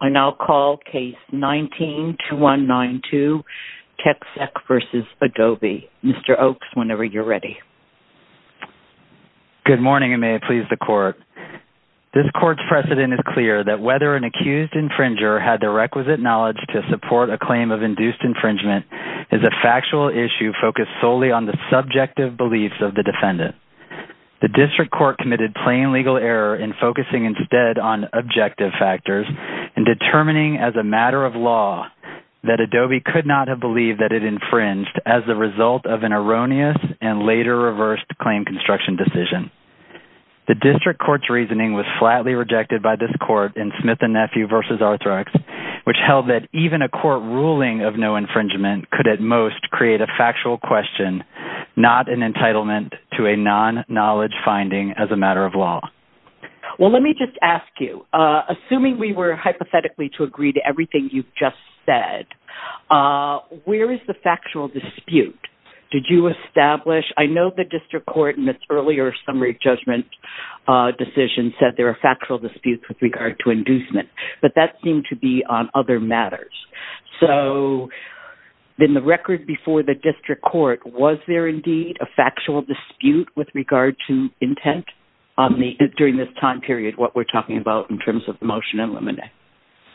I now call Case 19-2192 TecSec v. Adobe. Mr. Oaks, whenever you're ready. Good morning and may it please the Court. This Court's precedent is clear that whether an accused infringer had the requisite knowledge to support a claim of induced infringement is a factual issue focused solely on the subjective beliefs of the defendant. The District Court committed plain legal error in focusing instead on objective factors in determining as a matter of law that Adobe could not have believed that it infringed as a result of an erroneous and later reversed claim construction decision. The District Court's reasoning was flatly rejected by this Court in Smith and Nephew v. Arthrex, which held that even a court ruling of no infringement could at most create a factual question, not an entitlement to a non-knowledge finding as a matter of law. Well, let me just ask you, assuming we were hypothetically to agree to everything you've just said, where is the factual dispute? Did you establish? I know the District Court in its earlier summary judgment decision said there are factual disputes with regard to inducement, but that seemed to be on other matters. So in the record before the District Court, was there indeed a factual dispute with regard to intent during this time period, what we're talking about in terms of the motion in limine?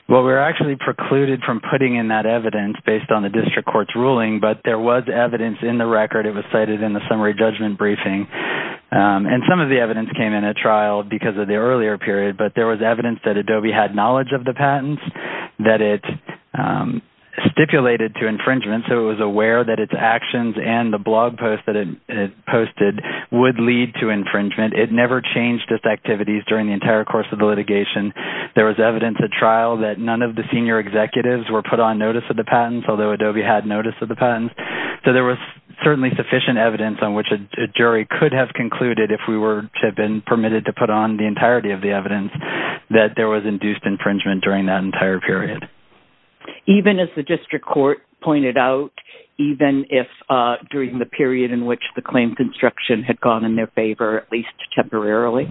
Well, we were actually precluded from putting in that evidence based on the District Court's ruling, but there was evidence in the record. It was cited in the summary judgment briefing. And some of the evidence came in at trial because of the earlier period, but there was evidence that Adobe had knowledge of the patents, that it stipulated to infringement, so it was aware that its actions and the blog post that it posted would lead to infringement. It never changed its activities during the entire course of the litigation. There was evidence at trial that none of the senior executives were put on notice of the patents, although Adobe had notice of the patents. So there was certainly sufficient evidence on which a jury could have concluded, if we were to have been permitted to put on the entirety of the evidence, that there was induced infringement during that entire period. Even as the District Court pointed out, even if during the period in which the claim construction had gone in their favor, at least temporarily?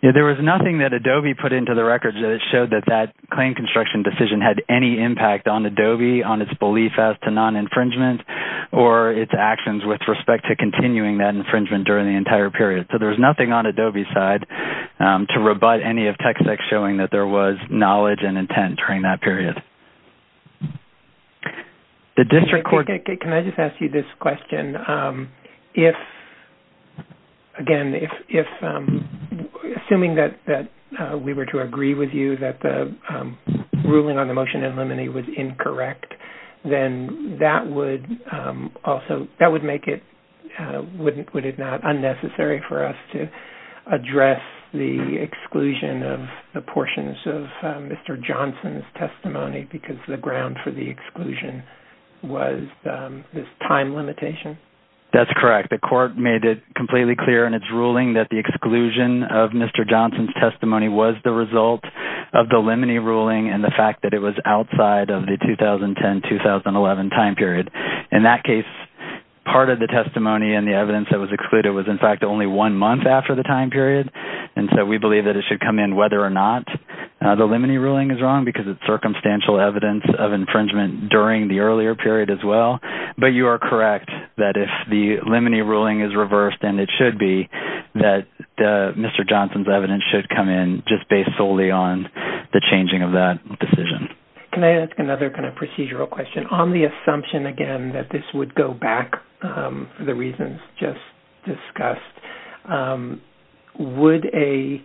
There was nothing that Adobe put into the record that showed that that claim construction decision had any impact on Adobe, on its belief as to non-infringement, or its actions with respect to continuing that infringement during the entire period. So there was nothing on Adobe's side to rebut any of TechSec's showing that there was knowledge and intent during that period. Can I just ask you this question? If, again, assuming that we were to agree with you that the ruling on the motion in limine was incorrect, then that would make it, would it not, unnecessary for us to address the exclusion of the portions of Mr. Johnson's testimony because the ground for the exclusion was this time limitation? That's correct. The court made it completely clear in its ruling that the exclusion of Mr. Johnson's testimony was the result of the limine ruling and the fact that it was outside of the 2010-2011 time period. In that case, part of the testimony and the evidence that was excluded was in fact only one month after the time period. And so we believe that it should come in whether or not the limine ruling is wrong because it's circumstantial evidence of infringement during the earlier period as well. But you are correct that if the limine ruling is reversed, and it should be, that Mr. Johnson's evidence should come in just based solely on the changing of that decision. Can I ask another kind of procedural question? On the assumption, again, that this would go back to the reasons just discussed, would a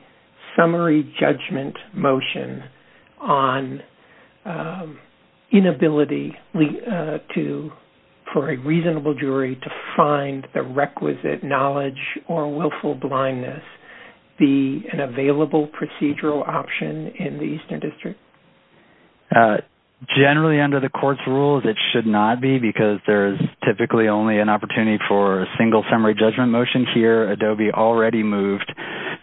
summary judgment motion on inability for a reasonable jury to find the requisite knowledge or willful blindness be an available procedural option in the Eastern District? Generally, under the court's rules, it should not be because there is typically only an opportunity for a single summary judgment motion. Here, ADOBE already moved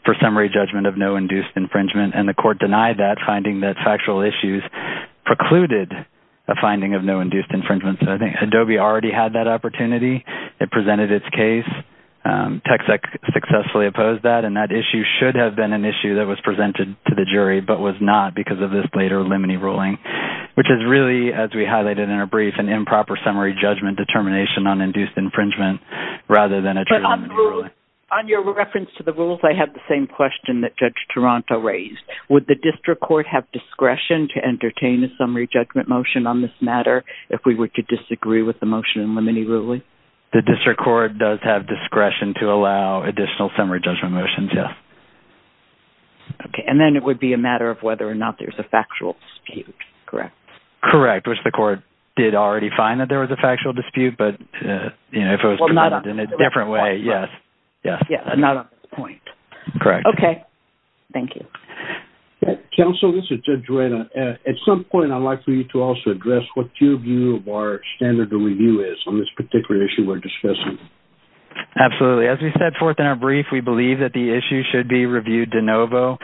for summary judgment of no induced infringement, and the court denied that finding that factual issues precluded a finding of no induced infringement. So I think ADOBE already had that opportunity. It presented its case. Texec successfully opposed that, and that issue should have been an issue that was presented to the jury but was not because of this later limine ruling, which is really, as we highlighted in our brief, an improper summary judgment determination on induced infringement rather than a true limine ruling. On your reference to the rules, I have the same question that Judge Toronto raised. Would the District Court have discretion to entertain a summary judgment motion on this matter if we were to disagree with the motion in limine ruling? The District Court does have discretion to allow additional summary judgment motions, yes. Okay, and then it would be a matter of whether or not there's a factual dispute, correct? Correct, which the court did already find that there was a factual dispute, but, you know, if it was presented in a different way, yes. Yeah, not on this point. Correct. Okay, thank you. Counsel, this is Judge Reina. At some point, I'd like for you to also address what your view of our standard of review is on this particular issue we're discussing. Absolutely. As we set forth in our brief, we believe that the issue should be reviewed de novo.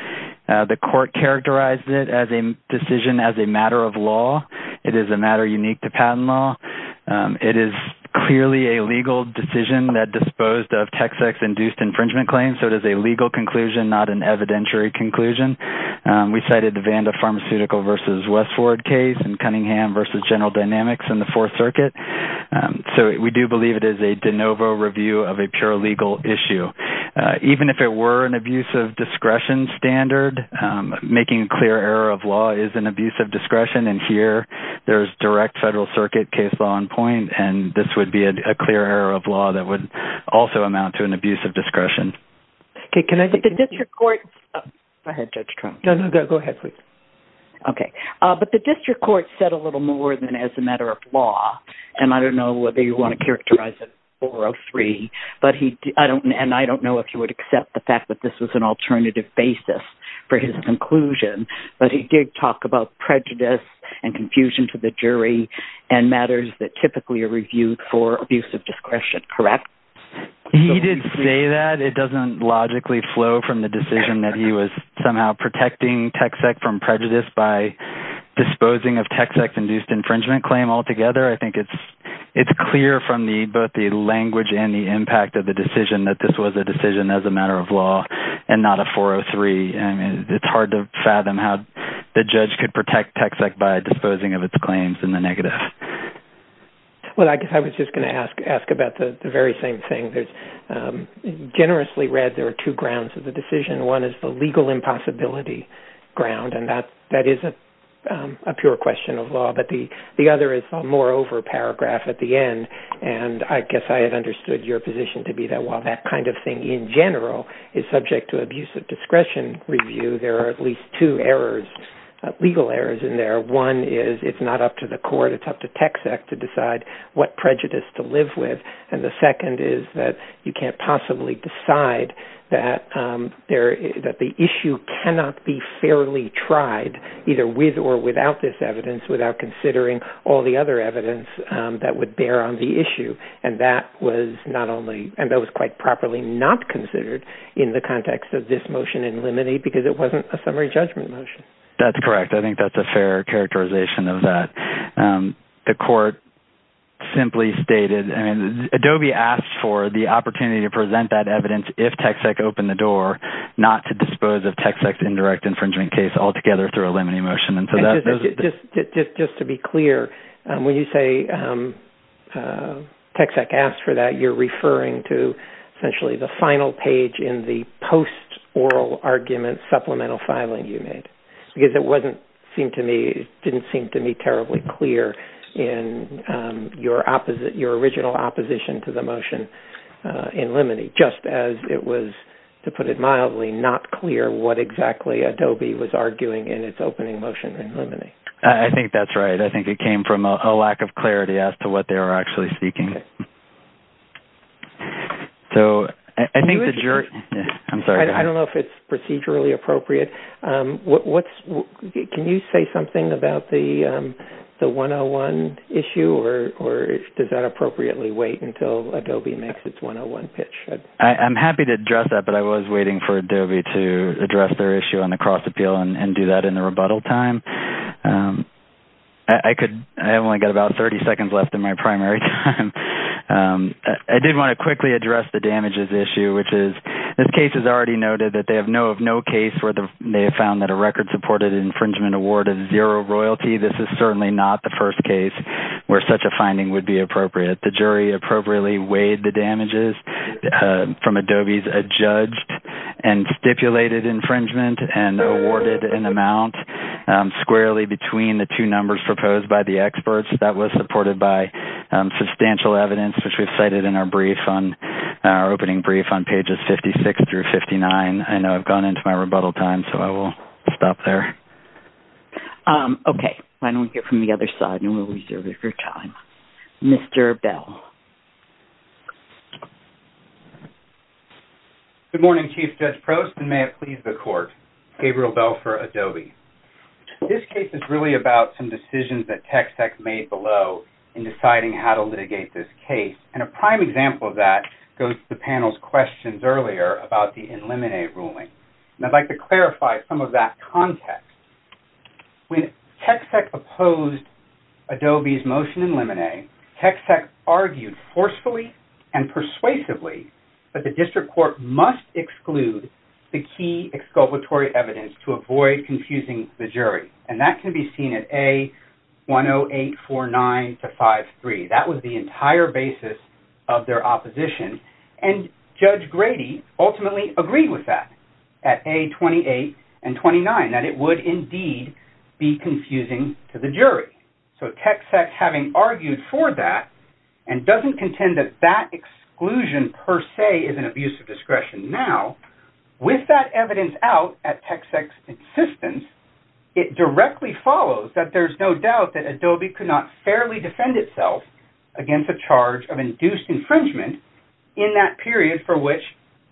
The court characterized it as a decision as a matter of law. It is a matter unique to patent law. It is clearly a legal decision that disposed of TexEx-induced infringement claims, so it is a legal conclusion, not an evidentiary conclusion. We cited the Vanda Pharmaceutical v. Westford case and Cunningham v. General Dynamics in the Fourth Circuit, so we do believe it is a de novo review of a pure legal issue. Even if it were an abuse of discretion standard, making a clear error of law is an abuse of discretion, and here there is direct Federal Circuit case law on point, and this would be a clear error of law that would also amount to an abuse of discretion. Okay, can I just... But the district court... Go ahead, Judge Trump. No, no, go ahead, please. Okay. But the district court said a little more than as a matter of law, and I don't know whether you want to characterize it 403, and I don't know if you would accept the fact that this was an alternative basis for his conclusion, but he did talk about prejudice and confusion to the jury and matters that typically are reviewed for abuse of discretion, correct? He did say that. It doesn't logically flow from the decision that he was somehow protecting TexEx from prejudice by disposing of TexEx-induced infringement claim altogether. I think it's clear from both the language and the impact of the decision that this was a decision as a matter of law and not a 403, and it's hard to fathom how the judge could protect TexEx by disposing of its claims in the negative. Well, I guess I was just going to ask about the very same thing. Generously read, there are two grounds of the decision. One is the legal impossibility ground, and that is a pure question of law, but the other is a moreover paragraph at the end, and I guess I have understood your position to be that while that kind of thing in general is subject to abuse of discretion review, there are at least two errors, legal errors in there. One is it's not up to the court, it's up to TexEx to decide what prejudice to live with, and the second is that you can't possibly decide that the issue cannot be fairly tried either with or without this evidence without considering all the other evidence that would bear on the issue, and that was quite properly not considered in the context of this motion in limine because it wasn't a summary judgment motion. That's correct. I think that's a fair characterization of that. The court simply stated, Adobe asked for the opportunity to present that evidence if TexEx opened the door not to dispose of TexEx's indirect infringement case altogether through a limine motion. Just to be clear, when you say TexEx asked for that, you're referring to essentially the final page in the post-oral argument supplemental filing you made because it didn't seem to me terribly clear in your original opposition to the motion in limine just as it was, to put it mildly, not clear what exactly Adobe was arguing in its opening motion in limine. I think that's right. I think it came from a lack of clarity as to what they were actually seeking. I don't know if it's procedurally appropriate. Can you say something about the 101 issue or does that appropriately wait until Adobe makes its 101 pitch? I'm happy to address that, but I was waiting for Adobe to address their issue on the cross-appeal and do that in the rebuttal time. I only got about 30 seconds left in my primary time. I did want to quickly address the damages issue, which is, this case is already noted that they have no case where they have found that a record-supported infringement award of zero royalty. This is certainly not the first case where such a finding would be appropriate. The jury appropriately weighed the damages from Adobe's adjudged and stipulated infringement and awarded an amount squarely between the two numbers proposed by the experts. That was supported by substantial evidence, which we've cited in our opening brief on pages 56 through 59. I know I've gone into my rebuttal time, so I will stop there. Okay, why don't we hear from the other side, and we'll reserve it for time. Mr. Bell. Good morning, Chief Judge Prost, and may it please the Court. Gabriel Bell for Adobe. This case is really about some decisions that TechSec made below in deciding how to litigate this case, and a prime example of that goes to the panel's questions earlier about the eliminate ruling. I'd like to clarify some of that context. When TechSec opposed Adobe's motion in limine, TechSec argued forcefully and persuasively that the District Court must exclude the key exculpatory evidence to avoid confusing the jury, and that can be seen at A10849-53. That was the entire basis of their opposition, and Judge Grady ultimately agreed with that at A28 and 29, that it would indeed be confusing to the jury. So TechSec having argued for that, and doesn't contend that that exclusion per se is an abuse of discretion now, with that evidence out at TechSec's insistence, it directly follows that there's no doubt that Adobe could not fairly defend itself against a charge of induced infringement in that period for which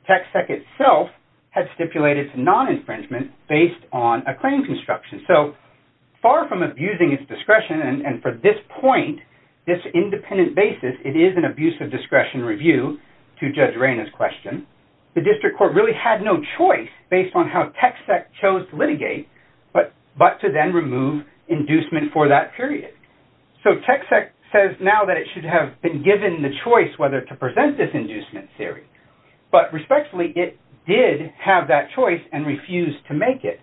TechSec itself had stipulated non-infringement based on a claim construction. So far from abusing its discretion, and for this point, this independent basis, it is an abuse of discretion review to Judge Reyna's question, the District Court really had no choice based on how TechSec chose to litigate, but to then remove inducement for that period. So TechSec says now that it should have been given the choice whether to present this inducement theory, but respectfully it did have that choice, and refused to make it.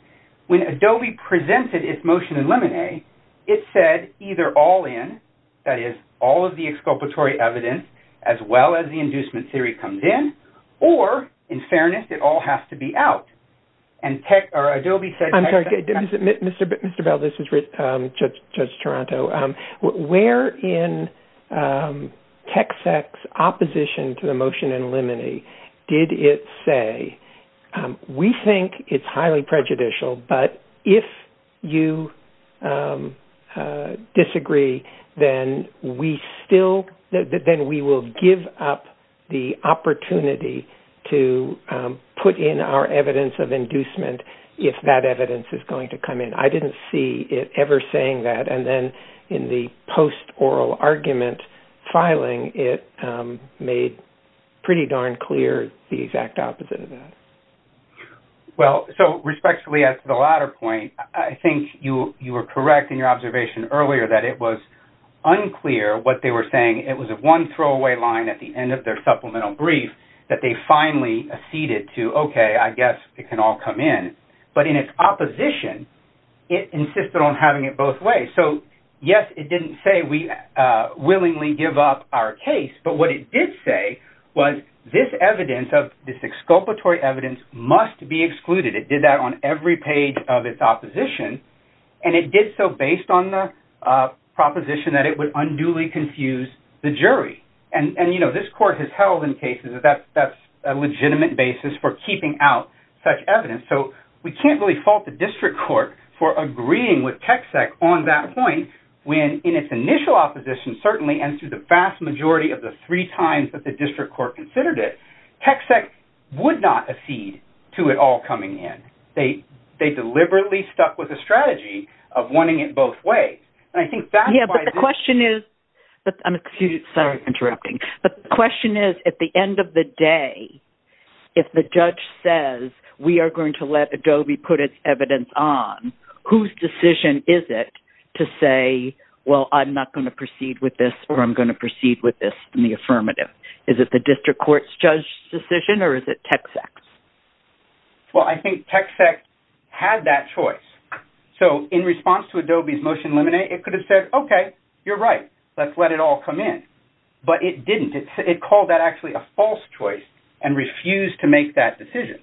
When Adobe presented its motion in limine, it said either all in, that is, all of the exculpatory evidence, as well as the inducement theory comes in, or in fairness, it all has to be out. I'm sorry, Mr. Bell, this is Judge Toronto. Where in TechSec's opposition to the motion in limine did it say, we think it's highly prejudicial, but if you disagree, then we will give up the opportunity to put in our evidence of inducement if that evidence is going to come in. I didn't see it ever saying that, and then in the post-oral argument filing, it made pretty darn clear the exact opposite of that. Well, so respectfully, as to the latter point, I think you were correct in your observation earlier that it was unclear what they were saying. It was one throwaway line at the end of their supplemental brief that they finally acceded to, okay, I guess it can all come in. But in its opposition, it insisted on having it both ways. So, yes, it didn't say we willingly give up our case, but what it did say was this evidence, this exculpatory evidence, must be excluded. It did that on every page of its opposition, and it did so based on the proposition that it would unduly confuse the jury. And, you know, this court has held in cases that that's a legitimate basis for keeping out such evidence. So we can't really fault the district court for agreeing with TXEC on that point when, in its initial opposition, certainly, and through the vast majority of the three times that the district court considered it, TXEC would not accede to it all coming in. They deliberately stuck with a strategy of wanting it both ways. And I think that's why... Yeah, but the question is... I'm sorry for interrupting. But the question is, at the end of the day, if the judge says we are going to let Adobe put its evidence on, whose decision is it to say, well, I'm not going to proceed with this or I'm going to proceed with this in the affirmative? Is it the district court's judge decision or is it TXEC's? Well, I think TXEC had that choice. So in response to Adobe's motion to eliminate, it could have said, okay, you're right, let's let it all come in. But it didn't. It called that actually a false choice and refused to make that decision.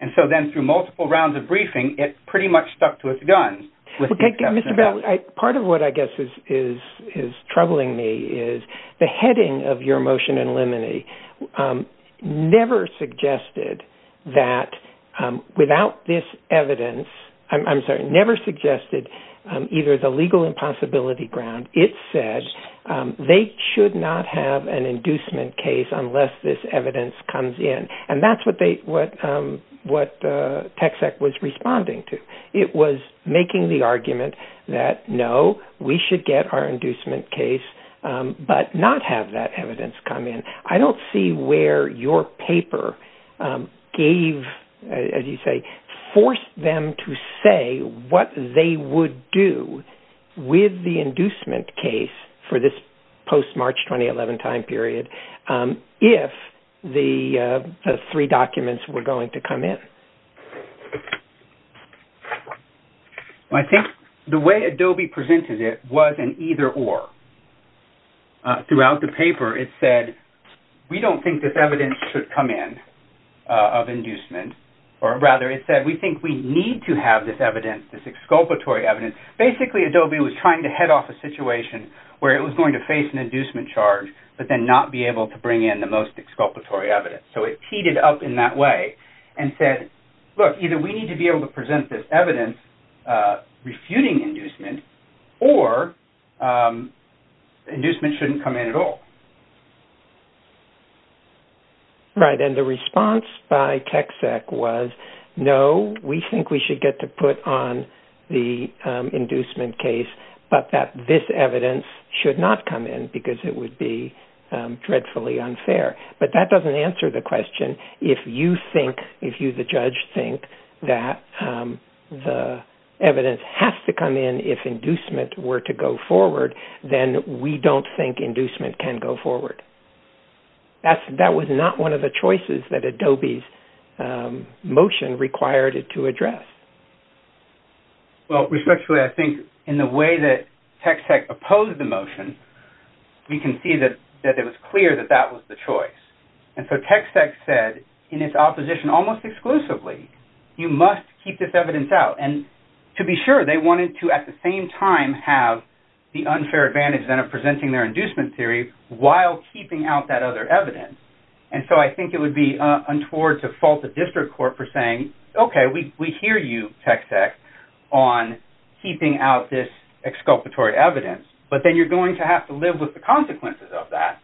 And so then through multiple rounds of briefing, it pretty much stuck to its guns with the exception of that. Mr. Bell, part of what I guess is troubling me is the heading of your motion in limine never suggested that without this evidence... I'm sorry, never suggested either the legal impossibility ground. It said they should not have an inducement case unless this evidence comes in. And that's what TXEC was responding to. It was making the argument that, no, we should get our inducement case but not have that evidence come in. I don't see where your paper gave, as you say, forced them to say what they would do with the inducement case for this post-March 2011 time period if the three documents were going to come in. I think the way Adobe presented it was an either-or. Throughout the paper, it said, we don't think this evidence should come in of inducement. Or rather, it said, we think we need to have this evidence, this exculpatory evidence. Basically, Adobe was trying to head off a situation where it was going to face an inducement charge but then not be able to bring in the most exculpatory evidence. So it teed it up in that way and said, look, either we need to be able to present this evidence refuting inducement or inducement shouldn't come in at all. Right. And the response by TXEC was, no, we think we should get to put on the inducement case but that this evidence should not come in because it would be dreadfully unfair. But that doesn't answer the question. If you think, if you, the judge, think that the evidence has to come in if inducement were to go forward, then we don't think inducement can go forward. That was not one of the choices that Adobe's motion required it to address. Well, respectfully, I think in the way that TXEC opposed the motion, we can see that it was clear that that was the choice. And so TXEC said, in its opposition almost exclusively, you must keep this evidence out. And to be sure, they wanted to at the same time have the unfair advantage then of presenting their inducement theory while keeping out that other evidence. And so I think it would be untoward to fault the district court for saying, okay, we hear you, TXEC, on keeping out this exculpatory evidence, but then you're going to have to live with the consequences of that.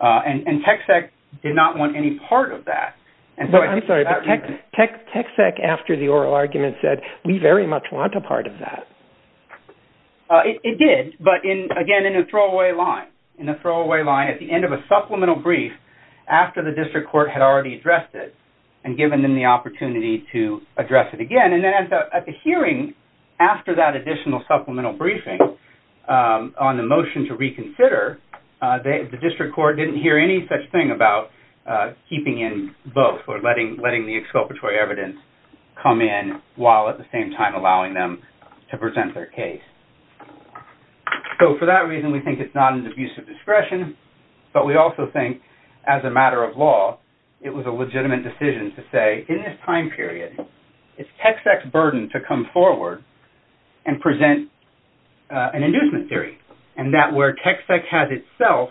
And TXEC did not want any part of that. I'm sorry, but TXEC after the oral argument said, we very much want a part of that. It did, but again, in a throwaway line. In a throwaway line at the end of a supplemental brief after the district court had already addressed it and given them the opportunity to address it again. And then at the hearing after that additional supplemental briefing on the motion to reconsider, the district court didn't hear any such thing about keeping in both or letting the exculpatory evidence come in while at the same time allowing them to present their case. So for that reason, we think it's not an abuse of discretion, but we also think as a matter of law, it was a legitimate decision to say in this time period, it's TXEC's burden to come forward and present an inducement theory and that where TXEC has itself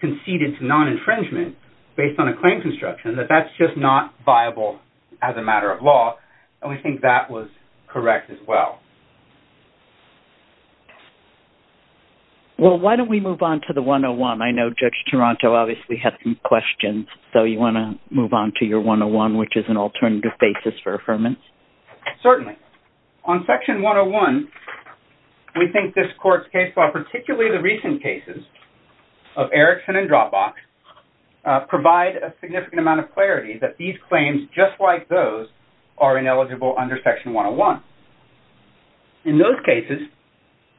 conceded to non-infringement based on a claim construction, that that's just not viable as a matter of law. And we think that was correct as well. Well, why don't we move on to the 101? I know Judge Toronto obviously had some questions. So you want to move on to your 101, which is an alternative basis for affirmance? Certainly. On section 101, we think this court's case law, particularly the recent cases of Erickson and Dropbox, provide a significant amount of clarity that these claims just like those are ineligible under section 101. In those cases,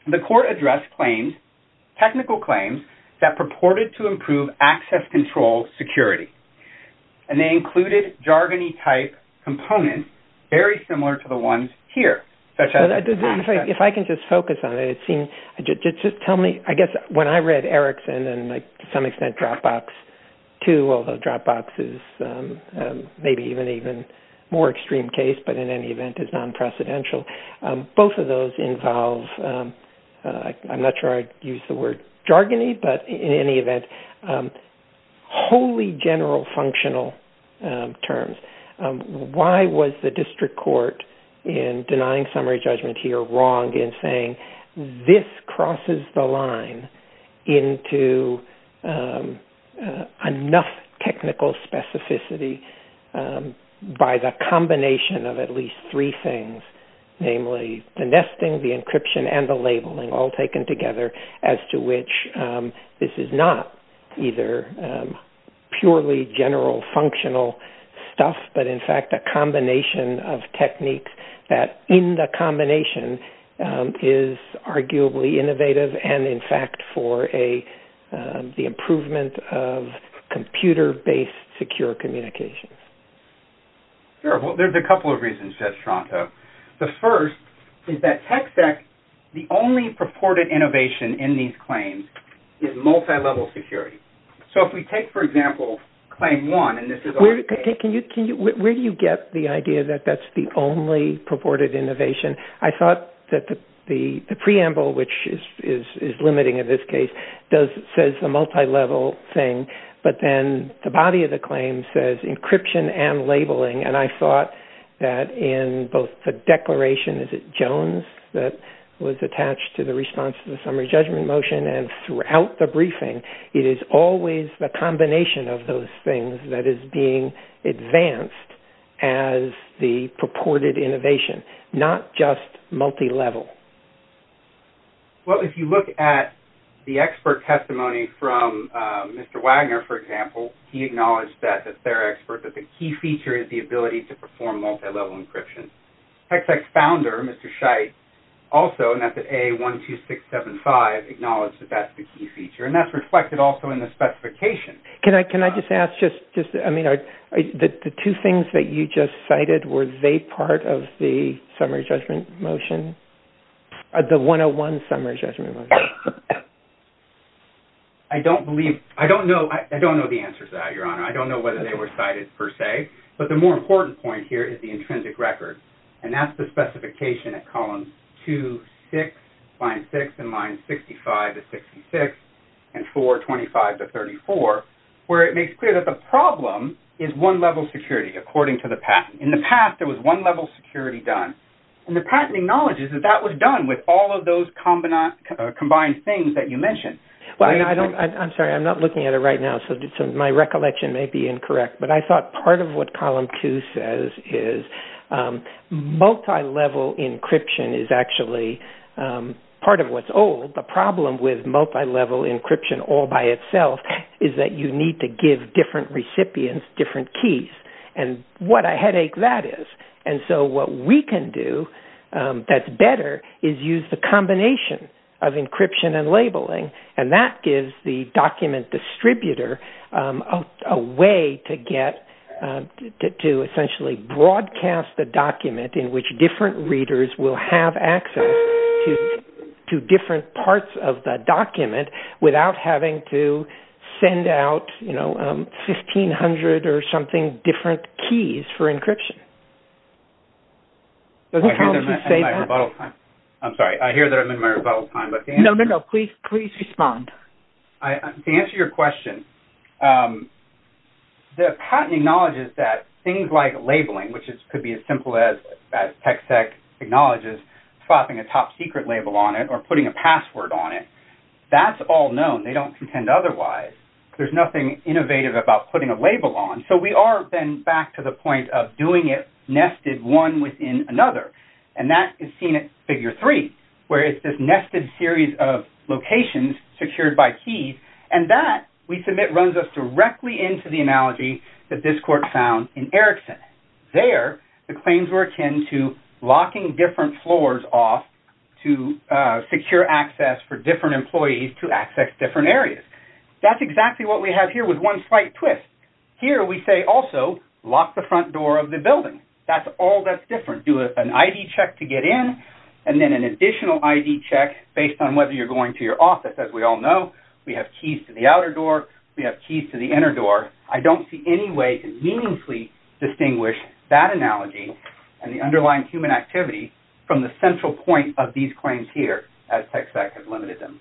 the court addressed claims, technical claims, that purported to improve access control security. And they included jargony type components very similar to the ones here. If I can just focus on it, it seems, just tell me, I guess when I read Erickson and to some extent Dropbox too, although Dropbox is maybe even more extreme case, but in any event is non-precedential. Both of those involve, I'm not sure I'd use the word jargony, but in any event, wholly general functional terms. Why was the district court in denying summary judgment here wrong in saying this crosses the line into enough technical specificity by the combination of at least three things. Namely, the nesting, the encryption, and the labeling all taken together as to which this is not either purely general functional stuff, but in fact, a combination of techniques that in the combination is arguably innovative and in fact, for the improvement of computer-based secure communications. Sure. Well, there's a couple of reasons, Jeff Stronto. The first is that TechSec, the only purported innovation in these claims, is multi-level security. So if we take, for example, claim one, and this is our case. Where do you get the idea that that's the only purported innovation? I thought that the preamble, which is limiting in this case, says the multi-level thing, but then the body of the claim says encryption and labeling, and I thought that in both the declaration, is it Jones, that was attached to the response to the summary judgment motion, and throughout the briefing, it is always the combination of those things that is being advanced as the purported innovation, not just multi-level. Well, if you look at the expert testimony from Mr. Wagner, for example, he acknowledged that as their expert that the key feature is the ability to perform multi-level encryption. TechSec's founder, Mr. Scheidt, also, and that's at A12675, acknowledged that that's the key feature, and that's reflected also in the specification. Can I just ask, just, I mean, the two things that you just cited, were they part of the summary judgment motion? The 101 summary judgment motion? I don't believe, I don't know, I don't know the answers to that, Your Honor. I don't know whether they were cited, per se, but the more important point here is the intrinsic record, and that's the specification at column 2, 6, line 6, and line 65 to 66, and 4, 25 to 34, where it makes clear that the problem is one-level security, according to the patent. In the past, there was one-level security done, and the patent acknowledges that that was done with all of those combined things that you mentioned. I'm sorry, I'm not looking at it right now, so my recollection may be incorrect, but I thought part of what column 2 says is multi-level encryption is actually part of what's old. The problem with multi-level encryption all by itself is that you need to give different recipients different keys, and what a headache that is. And so, that's better is use the combination of encryption and labeling, and that gives the document distributor a way to get to essentially broadcast the document in which different readers will have access to different parts of the document without having to send out you know, 1,500 or something different keys for encryption. Does the column 2 say that? I'm sorry, I hear that I'm in my rebuttal time, but the answer... No, no, no, please respond. To answer your question, the patent acknowledges that things like labeling, which could be as simple as TechSec acknowledges swapping a top secret label on it or putting a password on it, that's all known. They don't contend otherwise. There's nothing innovative about putting a label on. So we are then back to the point of doing it nested one within another, and that is seen in figure 3 where it's this nested series of locations secured by keys and that we submit and it runs us directly into the analogy that this court found in Erickson. There the claims were akin to locking different floors off to secure access for different employees to access different areas. That's exactly what we have here with one slight twist. Here we say also lock the front door of the building. That's all that's different. Do an ID check to get in and then an additional ID check based on whether you're going to your office. As we all know, we have keys to the outer door, we have keys to the inner door. I don't see any way to meaningfully distinguish that analogy and the underlying human activity from the central point of these claims here as TxVAC has limited them.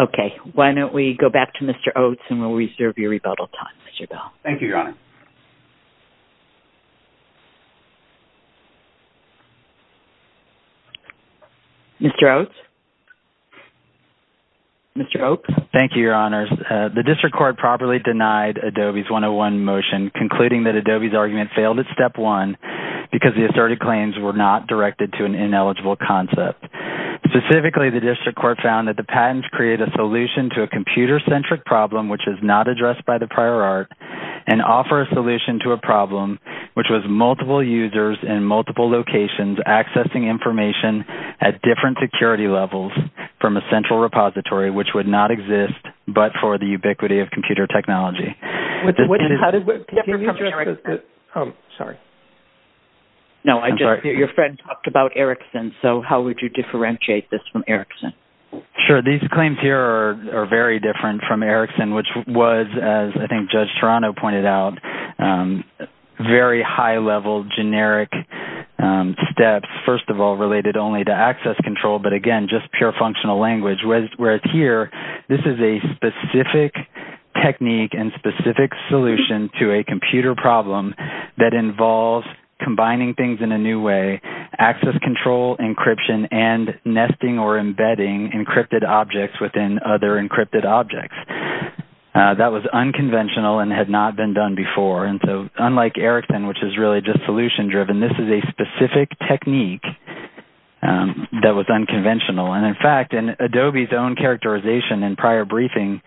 Okay. Why don't we go back to Mr. Oates and we'll reserve your rebuttal time, Mr. Bell. Thank you, Mr. Oates? Mr. Oates? Thank you, Your Honor. The district court properly denied Adobe's 101 motion concluding that Adobe's argument failed at step one because the asserted claims were not directed to an ineligible concept. Specifically, the district court found that the patents create a solution to a computer centric problem which is not addressed by the prior art and offer a solution to a problem which was multiple users in multiple locations accessing information at different security levels from a central repository which would not exist but for the ubiquity of computer technology. How did computer technology... Sorry. No, your friend talked about Ericsson, so how would you differentiate this from Ericsson? Sure, these claims here are very different from Ericsson which was, as I think Judge Toronto pointed out, very high-level generic steps, first of all, related only to access control but again just pure functional language whereas here this is a specific technique and specific solution to a computer problem that involves combining things in a new way, access control, encryption, and nesting or embedding encrypted objects within other encrypted objects. That was unconventional and had not been done before and so unlike Ericsson which is really just that was unconventional and in fact in Adobe's own characterization and prior briefing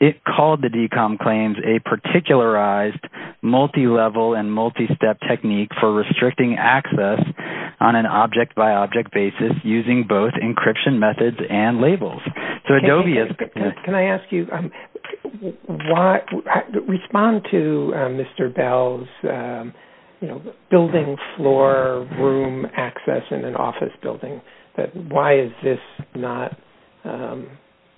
it called the DCOM claims a particularized multi-level and multi-step technique for restricting access on an object by object basis using both encryption methods and labels. So Adobe is... Can I ask you why respond to Mr. Bell's building floor room access in an office building that why is this not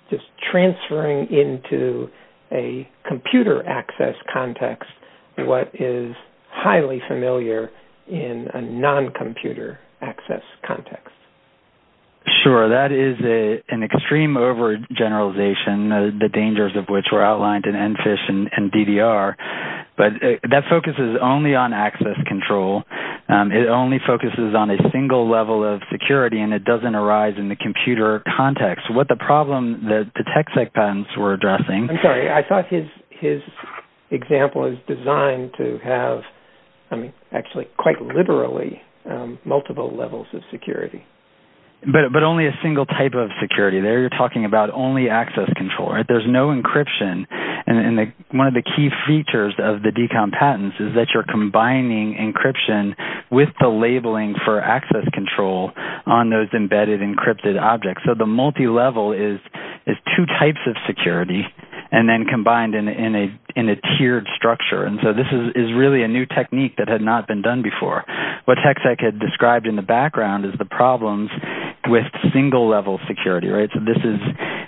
just transferring into a computer access context what is highly familiar in a non-computer access context? Sure. That is an extreme overgeneralization the dangers of which were outlined in EnFish and DDR but that focuses only on access control and it only focuses on a single level of security and it doesn't arise in the computer context. What the problem that the TechSec patents were addressing I'm sorry I thought his example is designed to have actually quite literally multiple levels of security but only a single type of security there you're talking about only access control there's no encryption and one of the key features of the DECOM patents is that you're combining encryption with the labeling for access control on those embedded encrypted objects so the multi-level is two types of security and then combined in a tiered structure and so this is really a new technique that had not been done before what TechSec had described in the background is the problems with single level security so this is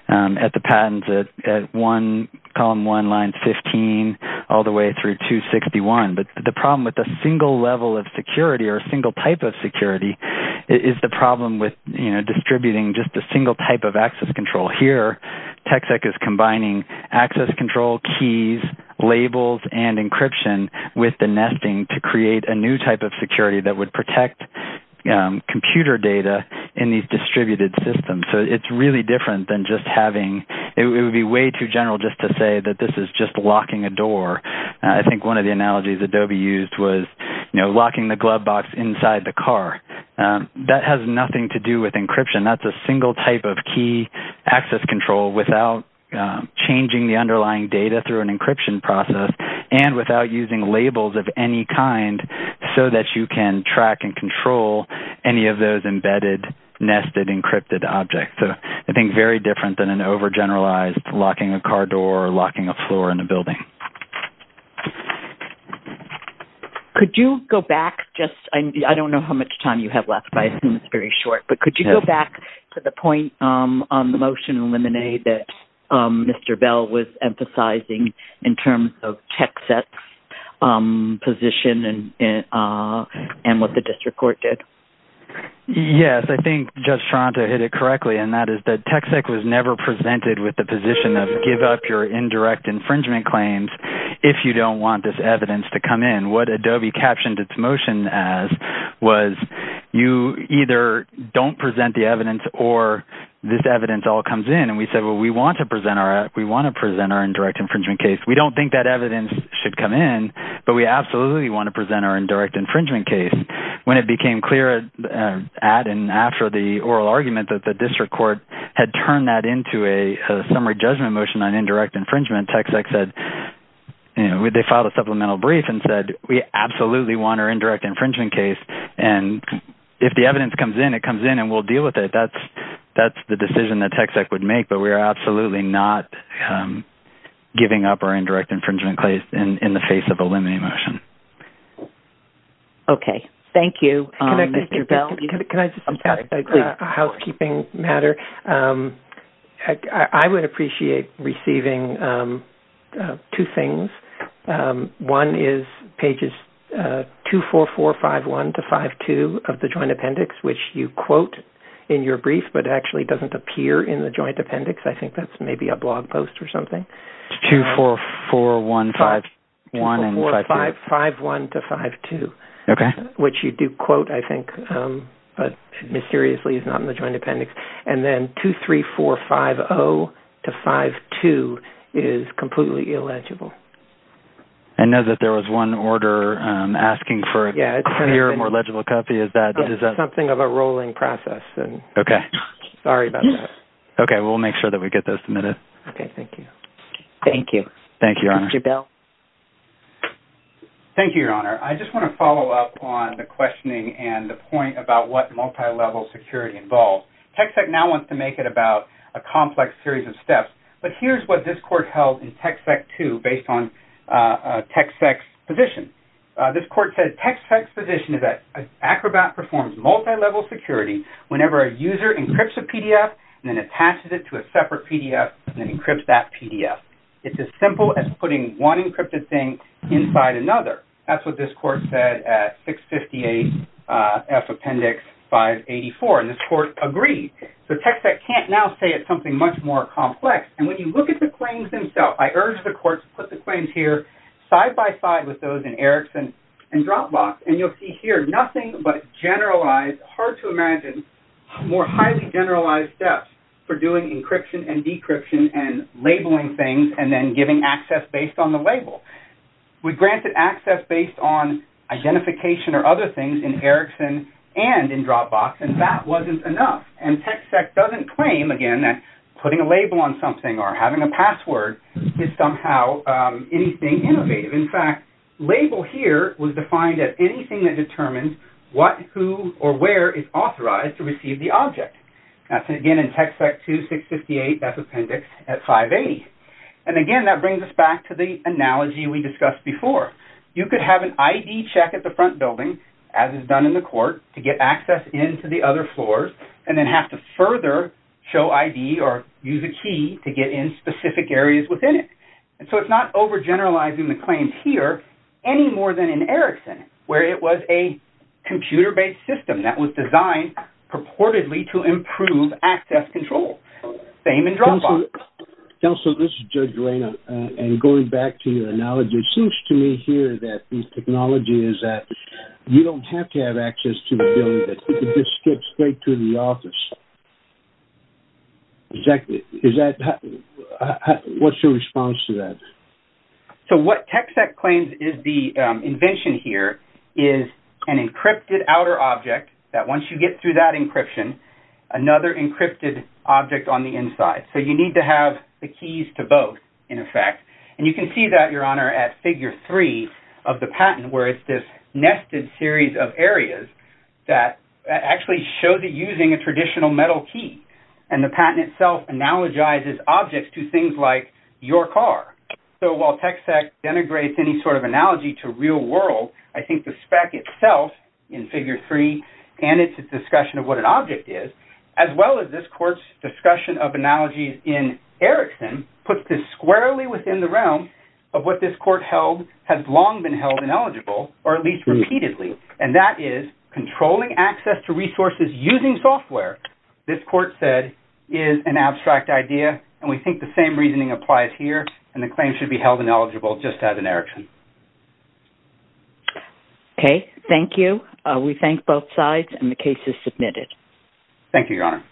at the patents at one column one line 15 all the way through 261 but the problem with a single level of security or a single type of security is the problem with distributing just a single type of access control here TechSec is combining access control keys labels and encryption with the nesting to create a new type of security that would protect computer data in these distributed systems so it's really different than just having it would be way too general just to say that this is just locking a door I think one of the analogies Adobe used was locking the glove box inside the car that has nothing to do with encryption that's a single type of key access control without changing the underlying data through an encryption process and without using labels of any kind so that you can track and control any of those embedded nested encrypted objects so I think very different than an over generalized locking a car door or locking a floor in a building Could you go back just I don't know how much time you have left but I assume it's very short but could you go back to the point on the motion on Lemonade that Mr. Bell was emphasizing in terms of TechSec um position and uh and what the district court did Yes I think Judge Toronto hit it correctly and that is that TechSec was never presented with the position of give up your indirect infringement claims if you don't want this evidence to come in what Adobe captioned its motion as was you either don't present the evidence or this evidence all comes in and we said we want to present our indirect infringement case we don't think that evidence should come in but we absolutely want to present our indirect infringement case when it was filed a supplemental brief and said we absolutely want our indirect infringement case and if the evidence comes in it comes in and we'll deal with it that's that's the decision that TechSec would make but we are absolutely not giving up our indirect infringement case in the face of a limiting motion okay thank you can i just ask a housekeeping matter i would appreciate receiving two things one is pages 244 51 to 52 of the 234151 and 5151 to 52 okay which you do quote i think but mysteriously is not in the joint appendix and then 23450 to 52 is completely illegible i know that there was one order asking for clear more thank you thank you thank you your honor i just want to follow up on the questioning and the point about what multilevel security involves techsec now wants to make it about a complex series of steps but here's what this court held in techsec 2 based on techsec's position this court said techsec's position is that acrobat performs multilevel security whenever a user encrypts a pdf and then attaches it to a separate pdf and then encrypts that pdf it's as simple as putting one encrypted thing inside another that's what this court said at 658 f appendix 584 and this court agreed so techsec can't now say it's something much more complex and when you look at the claims themselves i urge the court to put the claims here side by side with those in ericsson and dropbox and you'll see here nothing but generalized hard to imagine more highly generalized steps for doing encryption and decryption and labeling things and then giving access based on the label we granted access based on identification or other things in ericsson and in dropbox and that wasn't enough and techsec doesn't claim again that putting a label on something or having a password is somehow anything innovative in fact label here was defined as anything that determines what who or where is authorized to receive the object again in techsec 2658 that's appendix at 580 and again that brings us back to the analogy we discussed before you could have an id check at the front building as is done in the court to get access into the other floors and then have to further show id or use a key to get in specific areas within it and so it's not overgeneralizing the claims here any more than in ericsson where it was a computer based system that was designed purportedly to improve access control same in dropbox counsel this is judge arena and going back to your analogy it seems to me here that this technology is that you don't have to have access to the building you can just skip straight to the office exactly is that what's your response to that so what techsec claims is the invention here is an encrypted outer object that once you get through that encryption another encrypted object on the inside so you need to have the keys to both in effect and you can see that your honor at figure 3 of the patent where it's this nested series of areas that actually show that using a traditional metal key and the patent itself analogizes objects to things like your car so while techsec denigrates any sort of analogy to real world I think the spec itself in figure 3 and its discussion of what an object is as well as this court's discussion of analogies in Erickson puts this squarely within the realm of what this court held had long been held ineligible or at least repeatedly and that is controlling access to resources using software this court said is an abstract idea and we think the same reasoning applies here and the claim should be held ineligible just as in Erickson okay thank you we thank both sides and the case is submitted thank you your honor